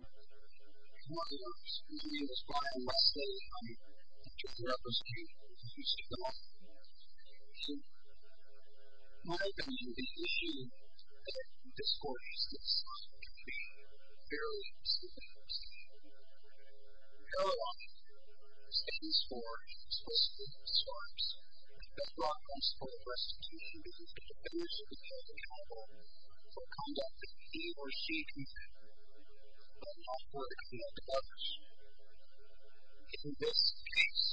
My name is Brian Wesley, and I'm the Director of Representation at the Houston Law Firm. So, my opinion of the issue is that this court is designed to be fairly simple. Paralyzing stands for explicitly discouraged. I've been brought on support of restitution because of the privilege of being accountable for conduct that he or she contributed, but not for the conduct of others. In this case,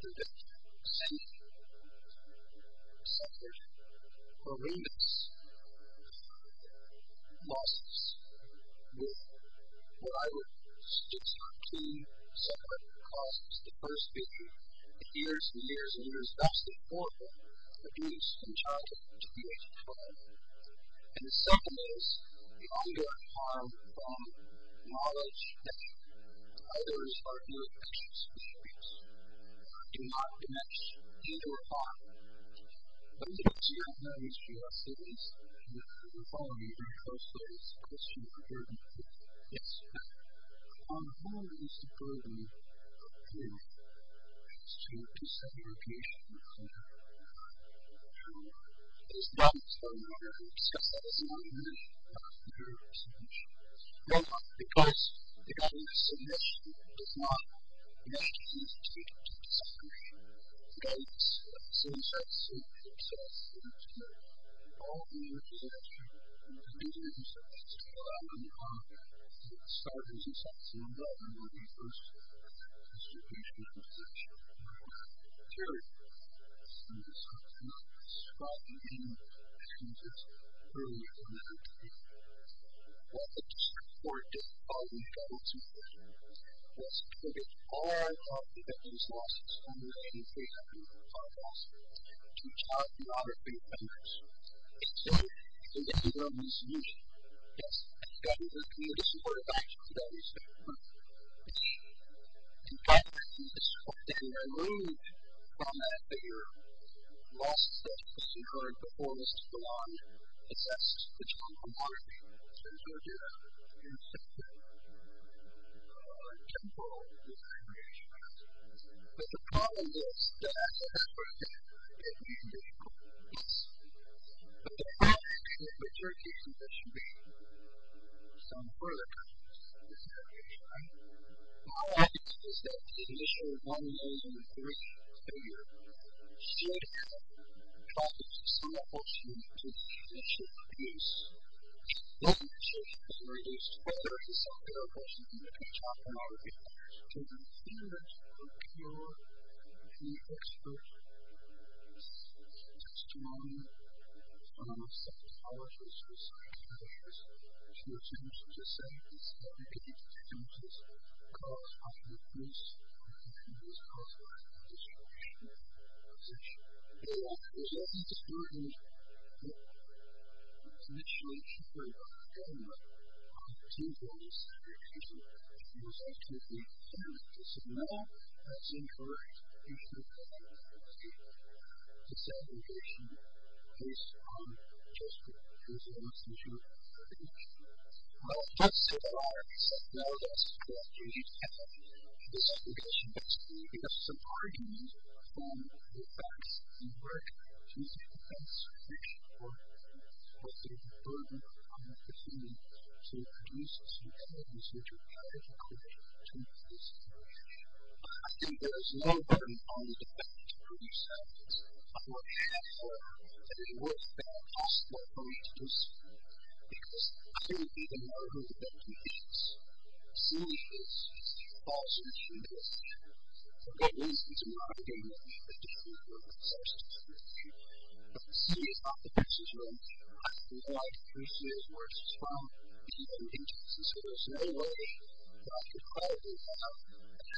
there have been significant, separate, horrendous losses with what I would suggest are two separate causes. The first being the years and years and years of absolutely horrible abuse and child abuse of children. And the second is the ongoing harm from knowledge that others are doing things that they should be doing, or do not do much, and do harm. Those are the two main issues, at least. You're following me very closely. It's a question of burden, too. Yes, correct. One of the things to burden, too, is to disengage the child. It is done so in order to discuss that as an argument about the duty of submission. Why? Because the duty of submission does not measure the duty to disengage the child. So, you start to see, for instance, the need to involve the individual in the abuse of children. You start to see that. You start to see some of the involvement of the individuals in the situation of the child. You hear some of the subpoena described in the name of the accused earlier in the interview. Well, the district court did all they could in its interest to support it. All our law enforcement agencies lost its foundation of faith after the child loss. The child did not have faith in us. It's a solution. It's a legitimate solution. Yes. It's gotten the community to support it. Actually, that is the point. It's been covered. It's been removed from that bigger loss that you heard before was to belong. It's not just the child no longer belongs to you. It's your duty to do something temporal with the creation of that. But the problem is that, as a matter of fact, the individual does. But the problem is that the jurisdiction that you're in, some further kind of jurisdiction, right? The whole idea is that the initial 1,003 figure should have provided some opportunity for the initial abuse. Well, the decision was made as to whether it was something that a person could do to the child, but not again. So, in theory, there's no cure. There's no expert testimony. One of my psychologists was suspicious. She assumed it was a safety step. It could be contagious. It could cause possible abuse. It could cause life-threatening destruction. There's nothing to start with. It's an issue that should be covered by the government. It's an issue that needs to be addressed. It's an issue that needs to be addressed. And now, it's in her position to say that she has just been abused. It's an issue that needs to be addressed. Just to say that I accept now that this has changed, and that this is an issue that is needed to have some argument from the facts and work. She's in defense. She's in support. But there's no further opportunity to produce a successful research of child abuse to make this change. I think there is no better and only defense to produce evidence of what she has done that is worse than a hostile approach to this issue. Because I think we need to know who the victim is. See, this is also true to this issue. For good reason. It's not a good reason. It just means we're obsessed with this issue. But see, it's not the victim's issue. I think what I'd pursue is where it's from. It's even contagious. And so, there's no way that I could call the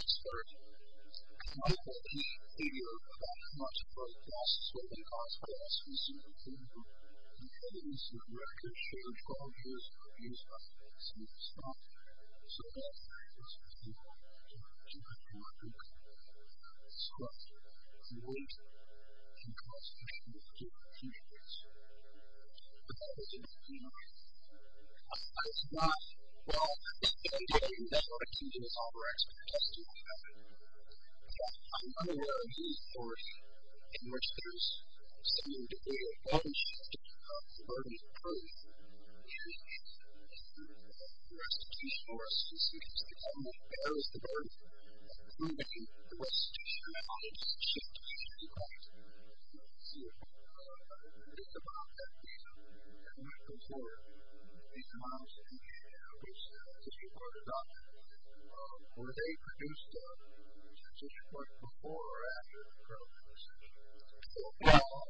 expert. I can only call the figure of how much of a loss it's going to cause for us. We've seen it. We've seen it. So, that is to say, we can't do it for a good cause. It's what we believe in. And that's what we should do for future research. But that is a different thing. It's not, well, in any case, that's what I think is all the rest of the testimony I've given. But I'm unaware of any source in which there is some degree of evidence to support the restitution for us to see if it's determined that there is the burden of proving the restitution or not. It just shouldn't be questioned. Let's see. It's about that issue. It might go forward. It might. It's just reported on. Or they produced a petition for it before or after the program was issued. Or, well,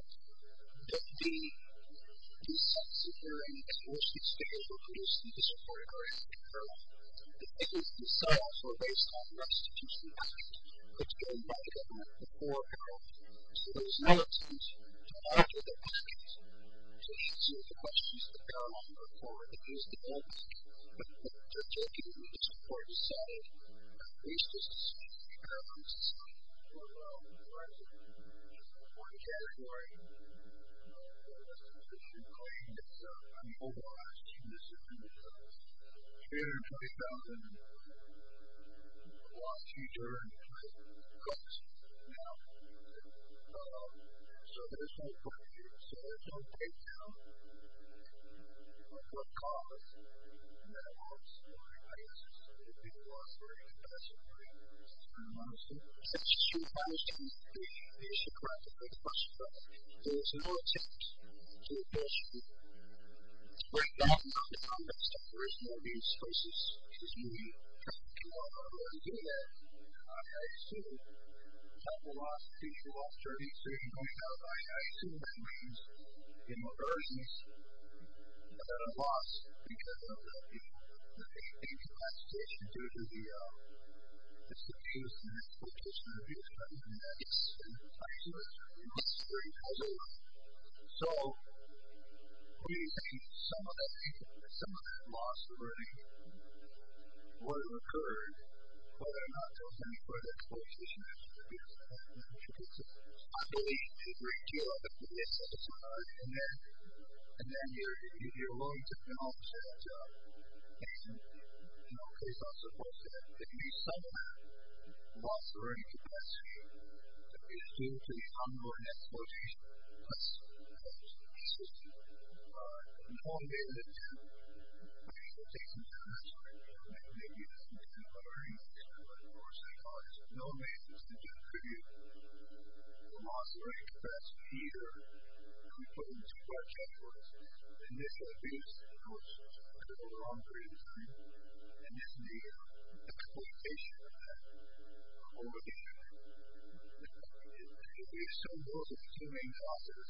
the sets of hearings, of course, that state were produced before or after the program. The petitions themselves were based on the restitution actions that were done by the government before or after. So, there was no excuse to not answer their questions, to answer the questions that they were on before or after these developments. I think that's all I can really support to say. At least this is what I'm trying to say. Well, there is one category of restitution claim that's been overwatched, and this is in the year 20,000. A lot of teachers are in court now. So, there's no question. So, there's no breakdown. There's no cause. There's no story. I guess it's the way people operate. It doesn't really matter. I don't know. So, restitution claims to be the issue. There's no question about that. So, there's no excuse to question it. There's no breakdown. There's no context. There's no excuses. It's unique. You can't come out of a room and do that. It's not how you see it. There's a lot of people out there. So, you're going out by item. That means inversions that are lost because of the things that last stage can do to the restitution and exploitation reviews. And that's the type of thing that's really necessary. It has a lot. So, what do you think? Some of that loss already would have occurred whether or not there was any further exploitation issues. I believe that there is. And then you're willing to acknowledge that, you know, it's not supposed to. If you somehow lost the revenue capacity, it's due to the ongoing exploitation costs of the system. And how long do they live in? I'm not sure. Maybe it's because of other reasons. But, of course, there are no reasons to do a review. Loss already confessed here. And we put in two part checkbooks. And this has been, of course, a little wrong redesign. And this is the exploitation of that over the years. There are still more than two main losses.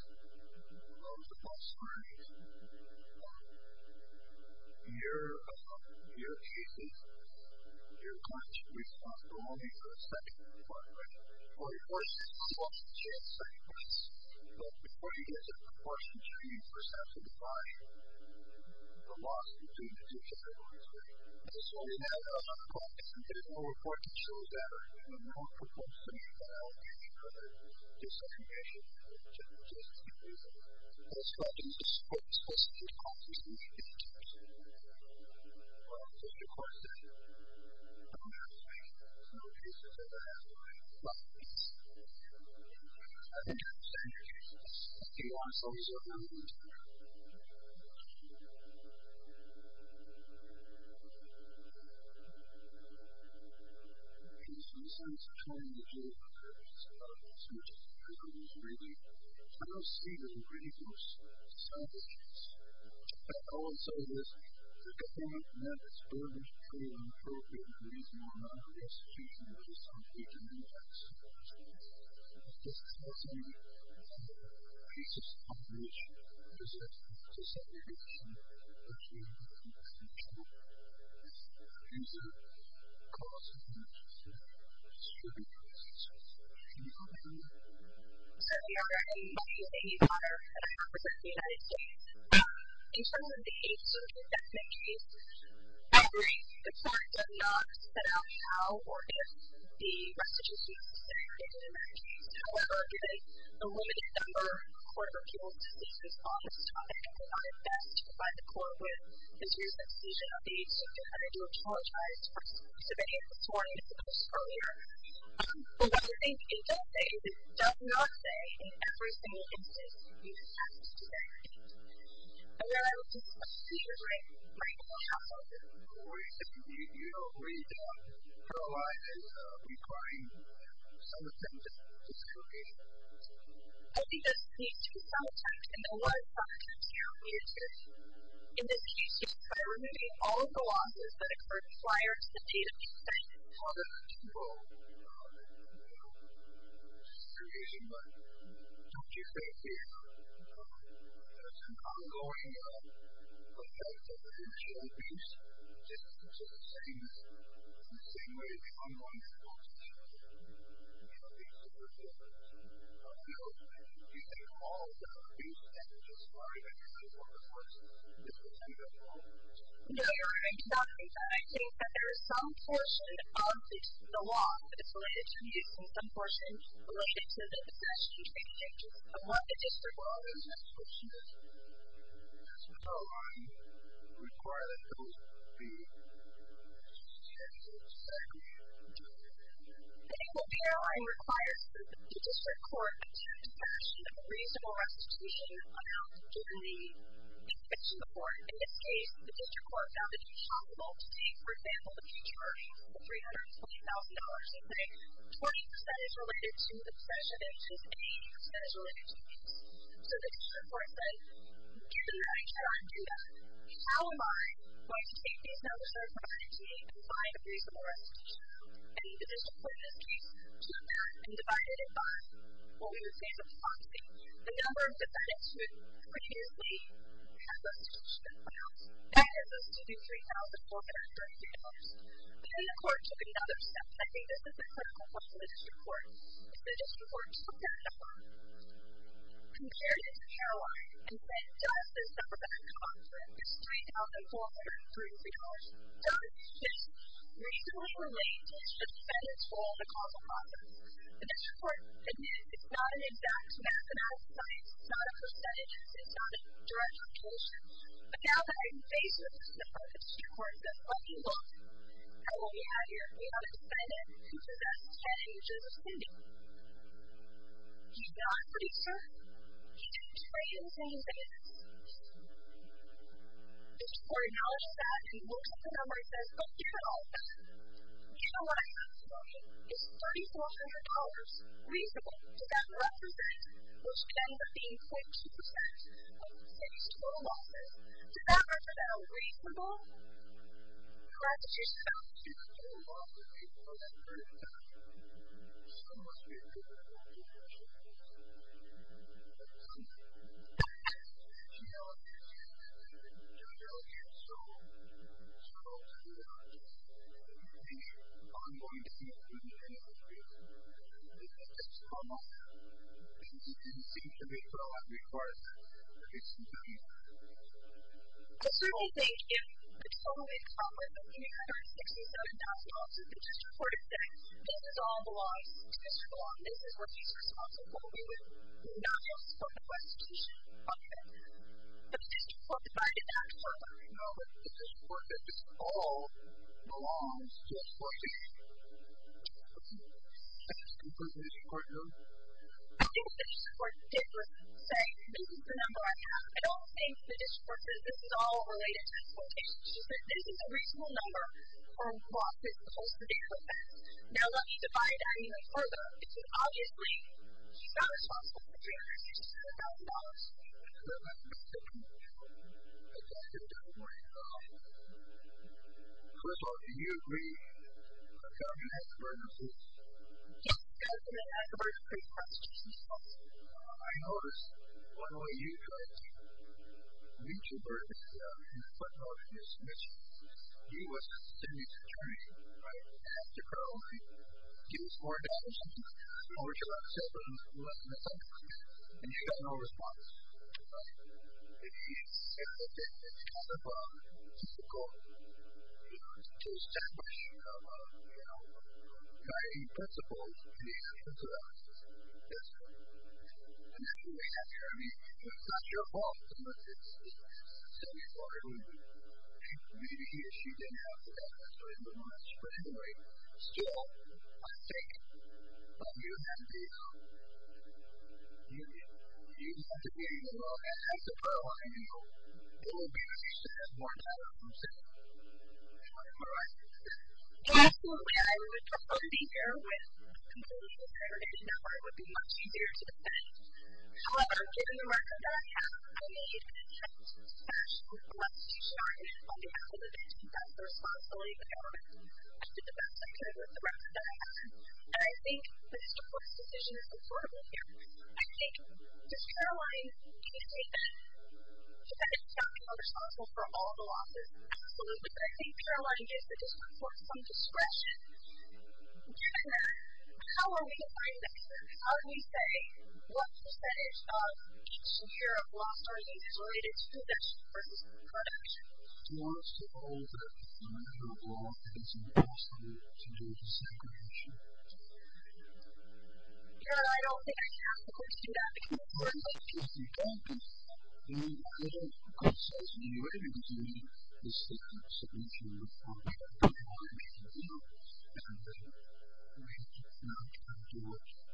The cost of earnings, year cases, year crunch, we've lost only the second part, right? Well, of course, it's the loss of share and second parts. But before you get to the proportions, you need to first have to define the loss between the two categories, right? I just want to point out that, of course, there's no report that shows that there are no proposed solutions at all. There's no disinformation. There's no justification. But it's probably the most explicit response we've seen in the years. And, of course, there are no cases of that, right? Losses. I think I'm going to stop here. I'll stop here. I'm sorry. I'll stop now. I'm going to stop here. There's some sense of telling the jail workers about the subject of the program, really. I don't see that it really boosts the sound issues. But also, it is a component that is deliberately inappropriate, and there is no longer a justification for the use of the agency. So, of course, there's this closing of the cases population, which is a dissemination of the agency. So, there's a cost advantage to the distributors. Can you talk about that? So, we are a multi-agency partner at a conference in the United States. In terms of the agency, the definition is every department of the office set out how or if the restitution of the state of the United States is, however, given a limited number of Court of Appeals decisions on this topic. And we've done our best to provide the Court with a series of decisions on these. And I do apologize for disobeying it this morning as opposed to earlier. But what I think it does say is it does not say in every single instance you have to say anything. And then I would just like to reiterate Michael's comment. We do realize it's requiring some attempt at discrediting. I think that's being too self-taught, and there are a lot of problems here on YouTube. In this case, just by removing all of the losses that occurred prior to the date of removal, you know, it's discrediting. But don't you think it's an ongoing effect of the judicial abuse? Just in the same way, the ongoing losses of these civil defendants. You know, do you think all of the abuse that we just heard and heard from the courts is intended at all? No, Your Honor. It's not intended. I think that there is some portion of the law that's related to abuse, and some portion related to the possession of the objectives of what the district law is. That's what you mean? That's what the law requires us to do. I think what the airline requires the district court is a possession of a reasonable restitution amount given the infection report. In this case, the district court found that it's possible to take, for example, the future $320,000 and take 20% as related to the possession, and just 80% as related to the abuse. So the district court said, given that I cannot do that, how am I going to take these numbers that I provided to you and find a reasonable restitution amount? And the district court in this case took that and divided it by what we would say is approximately The number of defendants who previously had restitution amounts added up to $3,433. Then the court took another step. I think this is a critical point for the district court. The district court took that number, compared it to Caroline, and then dubbed this number that I've come up with as $3,433, dubbed it just reasonably related to the defendant's role in the causal process. The district court admitted it's not an exact mathematical science. It's not a percentage. It's not a direct calculation. But now that I'm faced with this number, the district court says, well, you lost. How will we have your date on the defendant? Who's the best judge in the city? He's not a producer. He didn't trade anything in. The district court acknowledges that and looks at the number and says, well, here are the numbers. You know what I have for you? It's $3,400. Reasonable. Does that represent your spend of being 0.2% of the city's total losses? Does that represent a reasonable restitution amount? It's a reasonable loss of $3,400. It's a reasonable loss of $3,400. I'm sorry. You know, you're really strong. You're strong to be honest. I'm going to be a good judge for you. It's just a small number. It seems to me that a lot requires a reasonable amount. I certainly think if the total income was $167,000, the district court would say, this is all the law. It's too strong. This is what she's responsible for. We would not want to support the restitution. Okay. But the district court divided that. So, I know that the district court, that this all belongs to the district court. Okay. I think the district court did say, this is the number I have. I don't think the district court said, this is all related to exploitation. She said, this is a reasonable number for law. It's supposed to be. Okay. Now, let me divide that even further. Obviously, she's not responsible for $367,000. Okay. That's a good point. Okay. That's a good point. First of all, do you agree that Governor Hackerberg is responsible? Yes. Governor Hackerberg is a great constitutional sponsor. I noticed one way you tried to reach Hackerberg is by talking to his submission. He was assuming security, right? He had to probably give us more data, something like that, or to let us know that he wasn't a suspect. And you got no response. Right. And he said that it was kind of difficult to establish, you know, guiding principles in the actions of our system. That's right. And then you went after him. It's not your fault. So, you are completely issuing Hackerberg. So, in the last framework, still, I think, but you have to be, you know, you have to be a little antisocial. I don't know. There will be a more powerful system. All right. Absolutely. I would prefer to be here with a completely segregated network. It would be much easier to defend. However, given the record that I have, I need a special solicitation on behalf of the victim. That's the responsibility of the government. I did the best I could with the record that I have. And I think Mr. Forth's decision is important here. I think, does Caroline, can you say that she's not responsible for all the losses? Absolutely. But I think Caroline gives the district court some discretion. Given that, how are we defining this? How do we say, what percentage of secure of loss are these related to this person's production? Well, it's a little bit on how long it is in the past to do the segregation. Karen, I don't think I can answer the question. That would be more important. If you don't do it, then I don't think the court says to me, what are you going to do to me, the effect on the victim from the damages from his exploitation? Is that what you would go on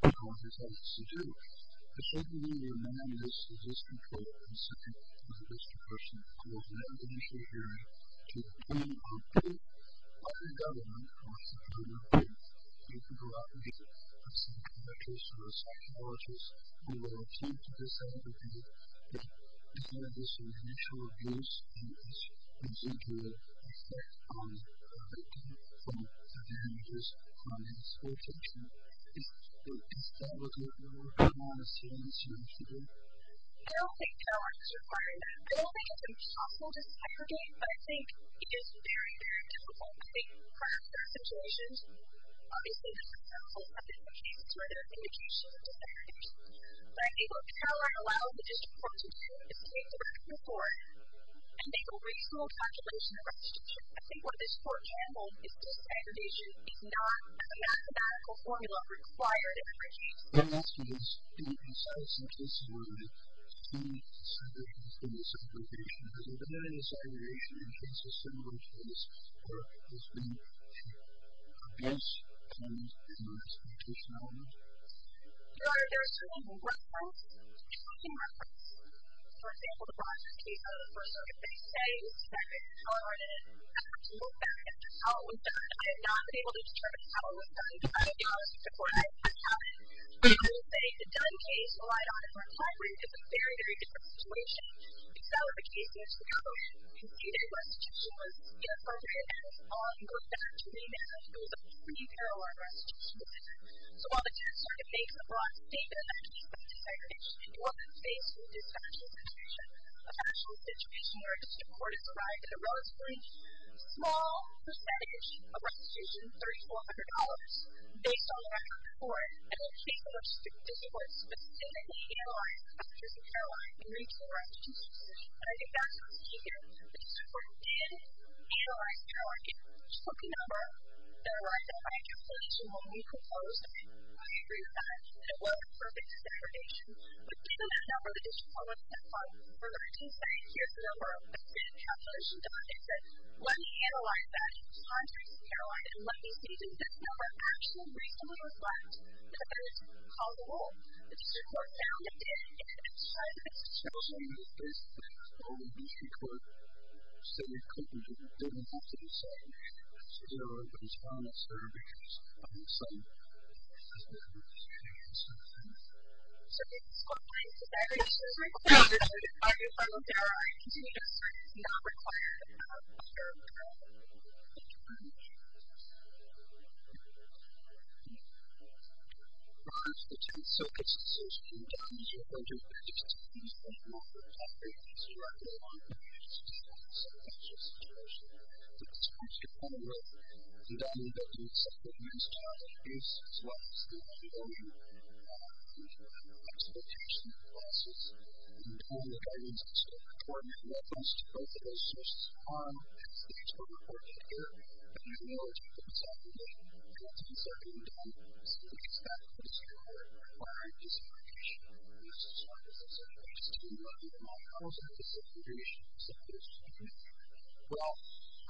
as soon as you should do? I don't think Caroline is required. I don't think it's impossible to segregate, but I think it is very, very difficult. I think prior to our situation, obviously there were several separate cases where there were indications of disaggregation. But I think if Caroline allowed the district court to do the same direct report, and make a reasonable calculation of restriction, I think what this court handled is disaggregation is not a mathematical formula required in a regime. What I'm asking is, do you consider some cases where the same segregation is in the same location? Has there been a segregation in cases similar to this, or has there been abuse, punishment, and exploitation elements? No, there has certainly been reference. There has certainly been reference. For example, the Bronx case, the first circuit they say was segregated in Colorado, and I have to look back at how it was done. I have not been able to determine how it was done, because I have not looked at the court I was in, and I will say the Dunn case relied on it for a time, but it was a very, very different situation. Because that was a case in which the government conceded restriction was inappropriate, and it's all going back to me now. It was a pre-Caroline restriction. So while the Dunn circuit makes the Bronx statement actually about segregation, it wasn't based on this actual situation. The actual situation where a district court has arrived at a relatively small percentage of restitution, $3,400, based on the record of the court, and the case in which the district court specifically analyzed restrictions in Carolina in reaching restrictions, and I think that's what's key here. The district court did analyze Carolina. It took a number that arrived at my calculation when we proposed, and I fully agree with that. It wasn't perfect segregation, but given that number, the district court looked at it and thought, we're going to do something. Here's the number. Let's get a calculation done. They said, let me analyze that. So I'm tracing Carolina, and let me see, does this number actually reasonably reflect the ability to call the roll? The district court found it did. It's an entirely different situation. Also, in the case of the Carolina district court, they said they couldn't do that. They didn't have to do segregation. So they were able to respond at certifications on the site as well as the restitution itself. Okay. So did the school find segregation required? And are you following? There are continuous studies not required of Carolina. Thank you very much. Thank you. Thank you. All right. The 10th. So it's a social condominium project. There are just a few people who have worked on this directly. I'm going to use this as an example. It's just an example. It's a two-tiered condominium. The condominium that the subcommittee is dealing with is, as well as the community building, we have an exploitation process. And the goal of the condominium is to still record and reference to both of those sources of harm. That's the district court report right there. But there's more to it than segregation. What needs to be said can be done. So the next step is to look at requiring desegregation of those sources. I just didn't know that. How is that desegregation supposed to be done? Well, I think that's the role of all the reimagining orders, which is designated by whom? Can you think? Yeah. Well, I don't know. I don't think it needs to be done as district court. First, I think it's the level of the city and district courts to consider this question of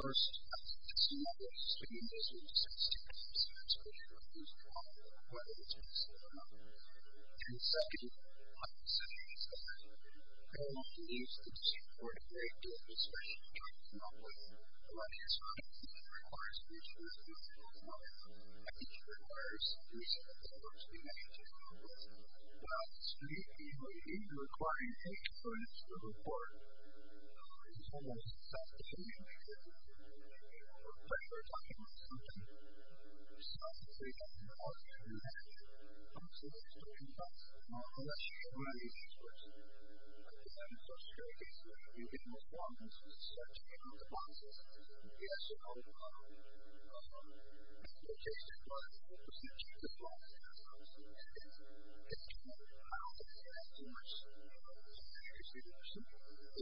who's at fault and what it is that's at fault. And second, my position is that I don't want to use the district court to break the administration joint monopoly. A lot of years ago, I didn't think it required a district court to do a joint monopoly. I think it requires a district court to be mentioned in the report. Well, the district and community building are requiring each ordinance to the report. It's almost self-determination. But they're talking about something. So I think they don't know how to do that. I'm just a little stumped on that. Well, let's show you what I mean first. Again, first, here it is. You get most ordinances. You start checking out the boxes. And yes, you're all in the middle. And you just apply the procedure to the boxes. And that's how it's implemented. I don't think it has to work. I think it should work. So, next up, we're going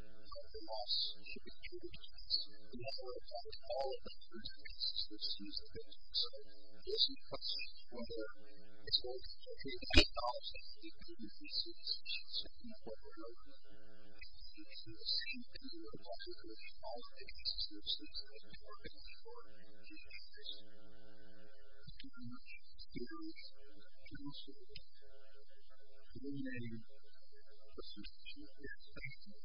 to look at the loss to the community services. We have a report on all of the community services that are used in the district. So, this is the cut sheet from there. It says $2,000 for the community services for September, February, and May. And it's the same thing here. It doesn't change all the community services that have been working for two years. Thank you very much. Stay with us. And we'll see you next time. Bye-bye.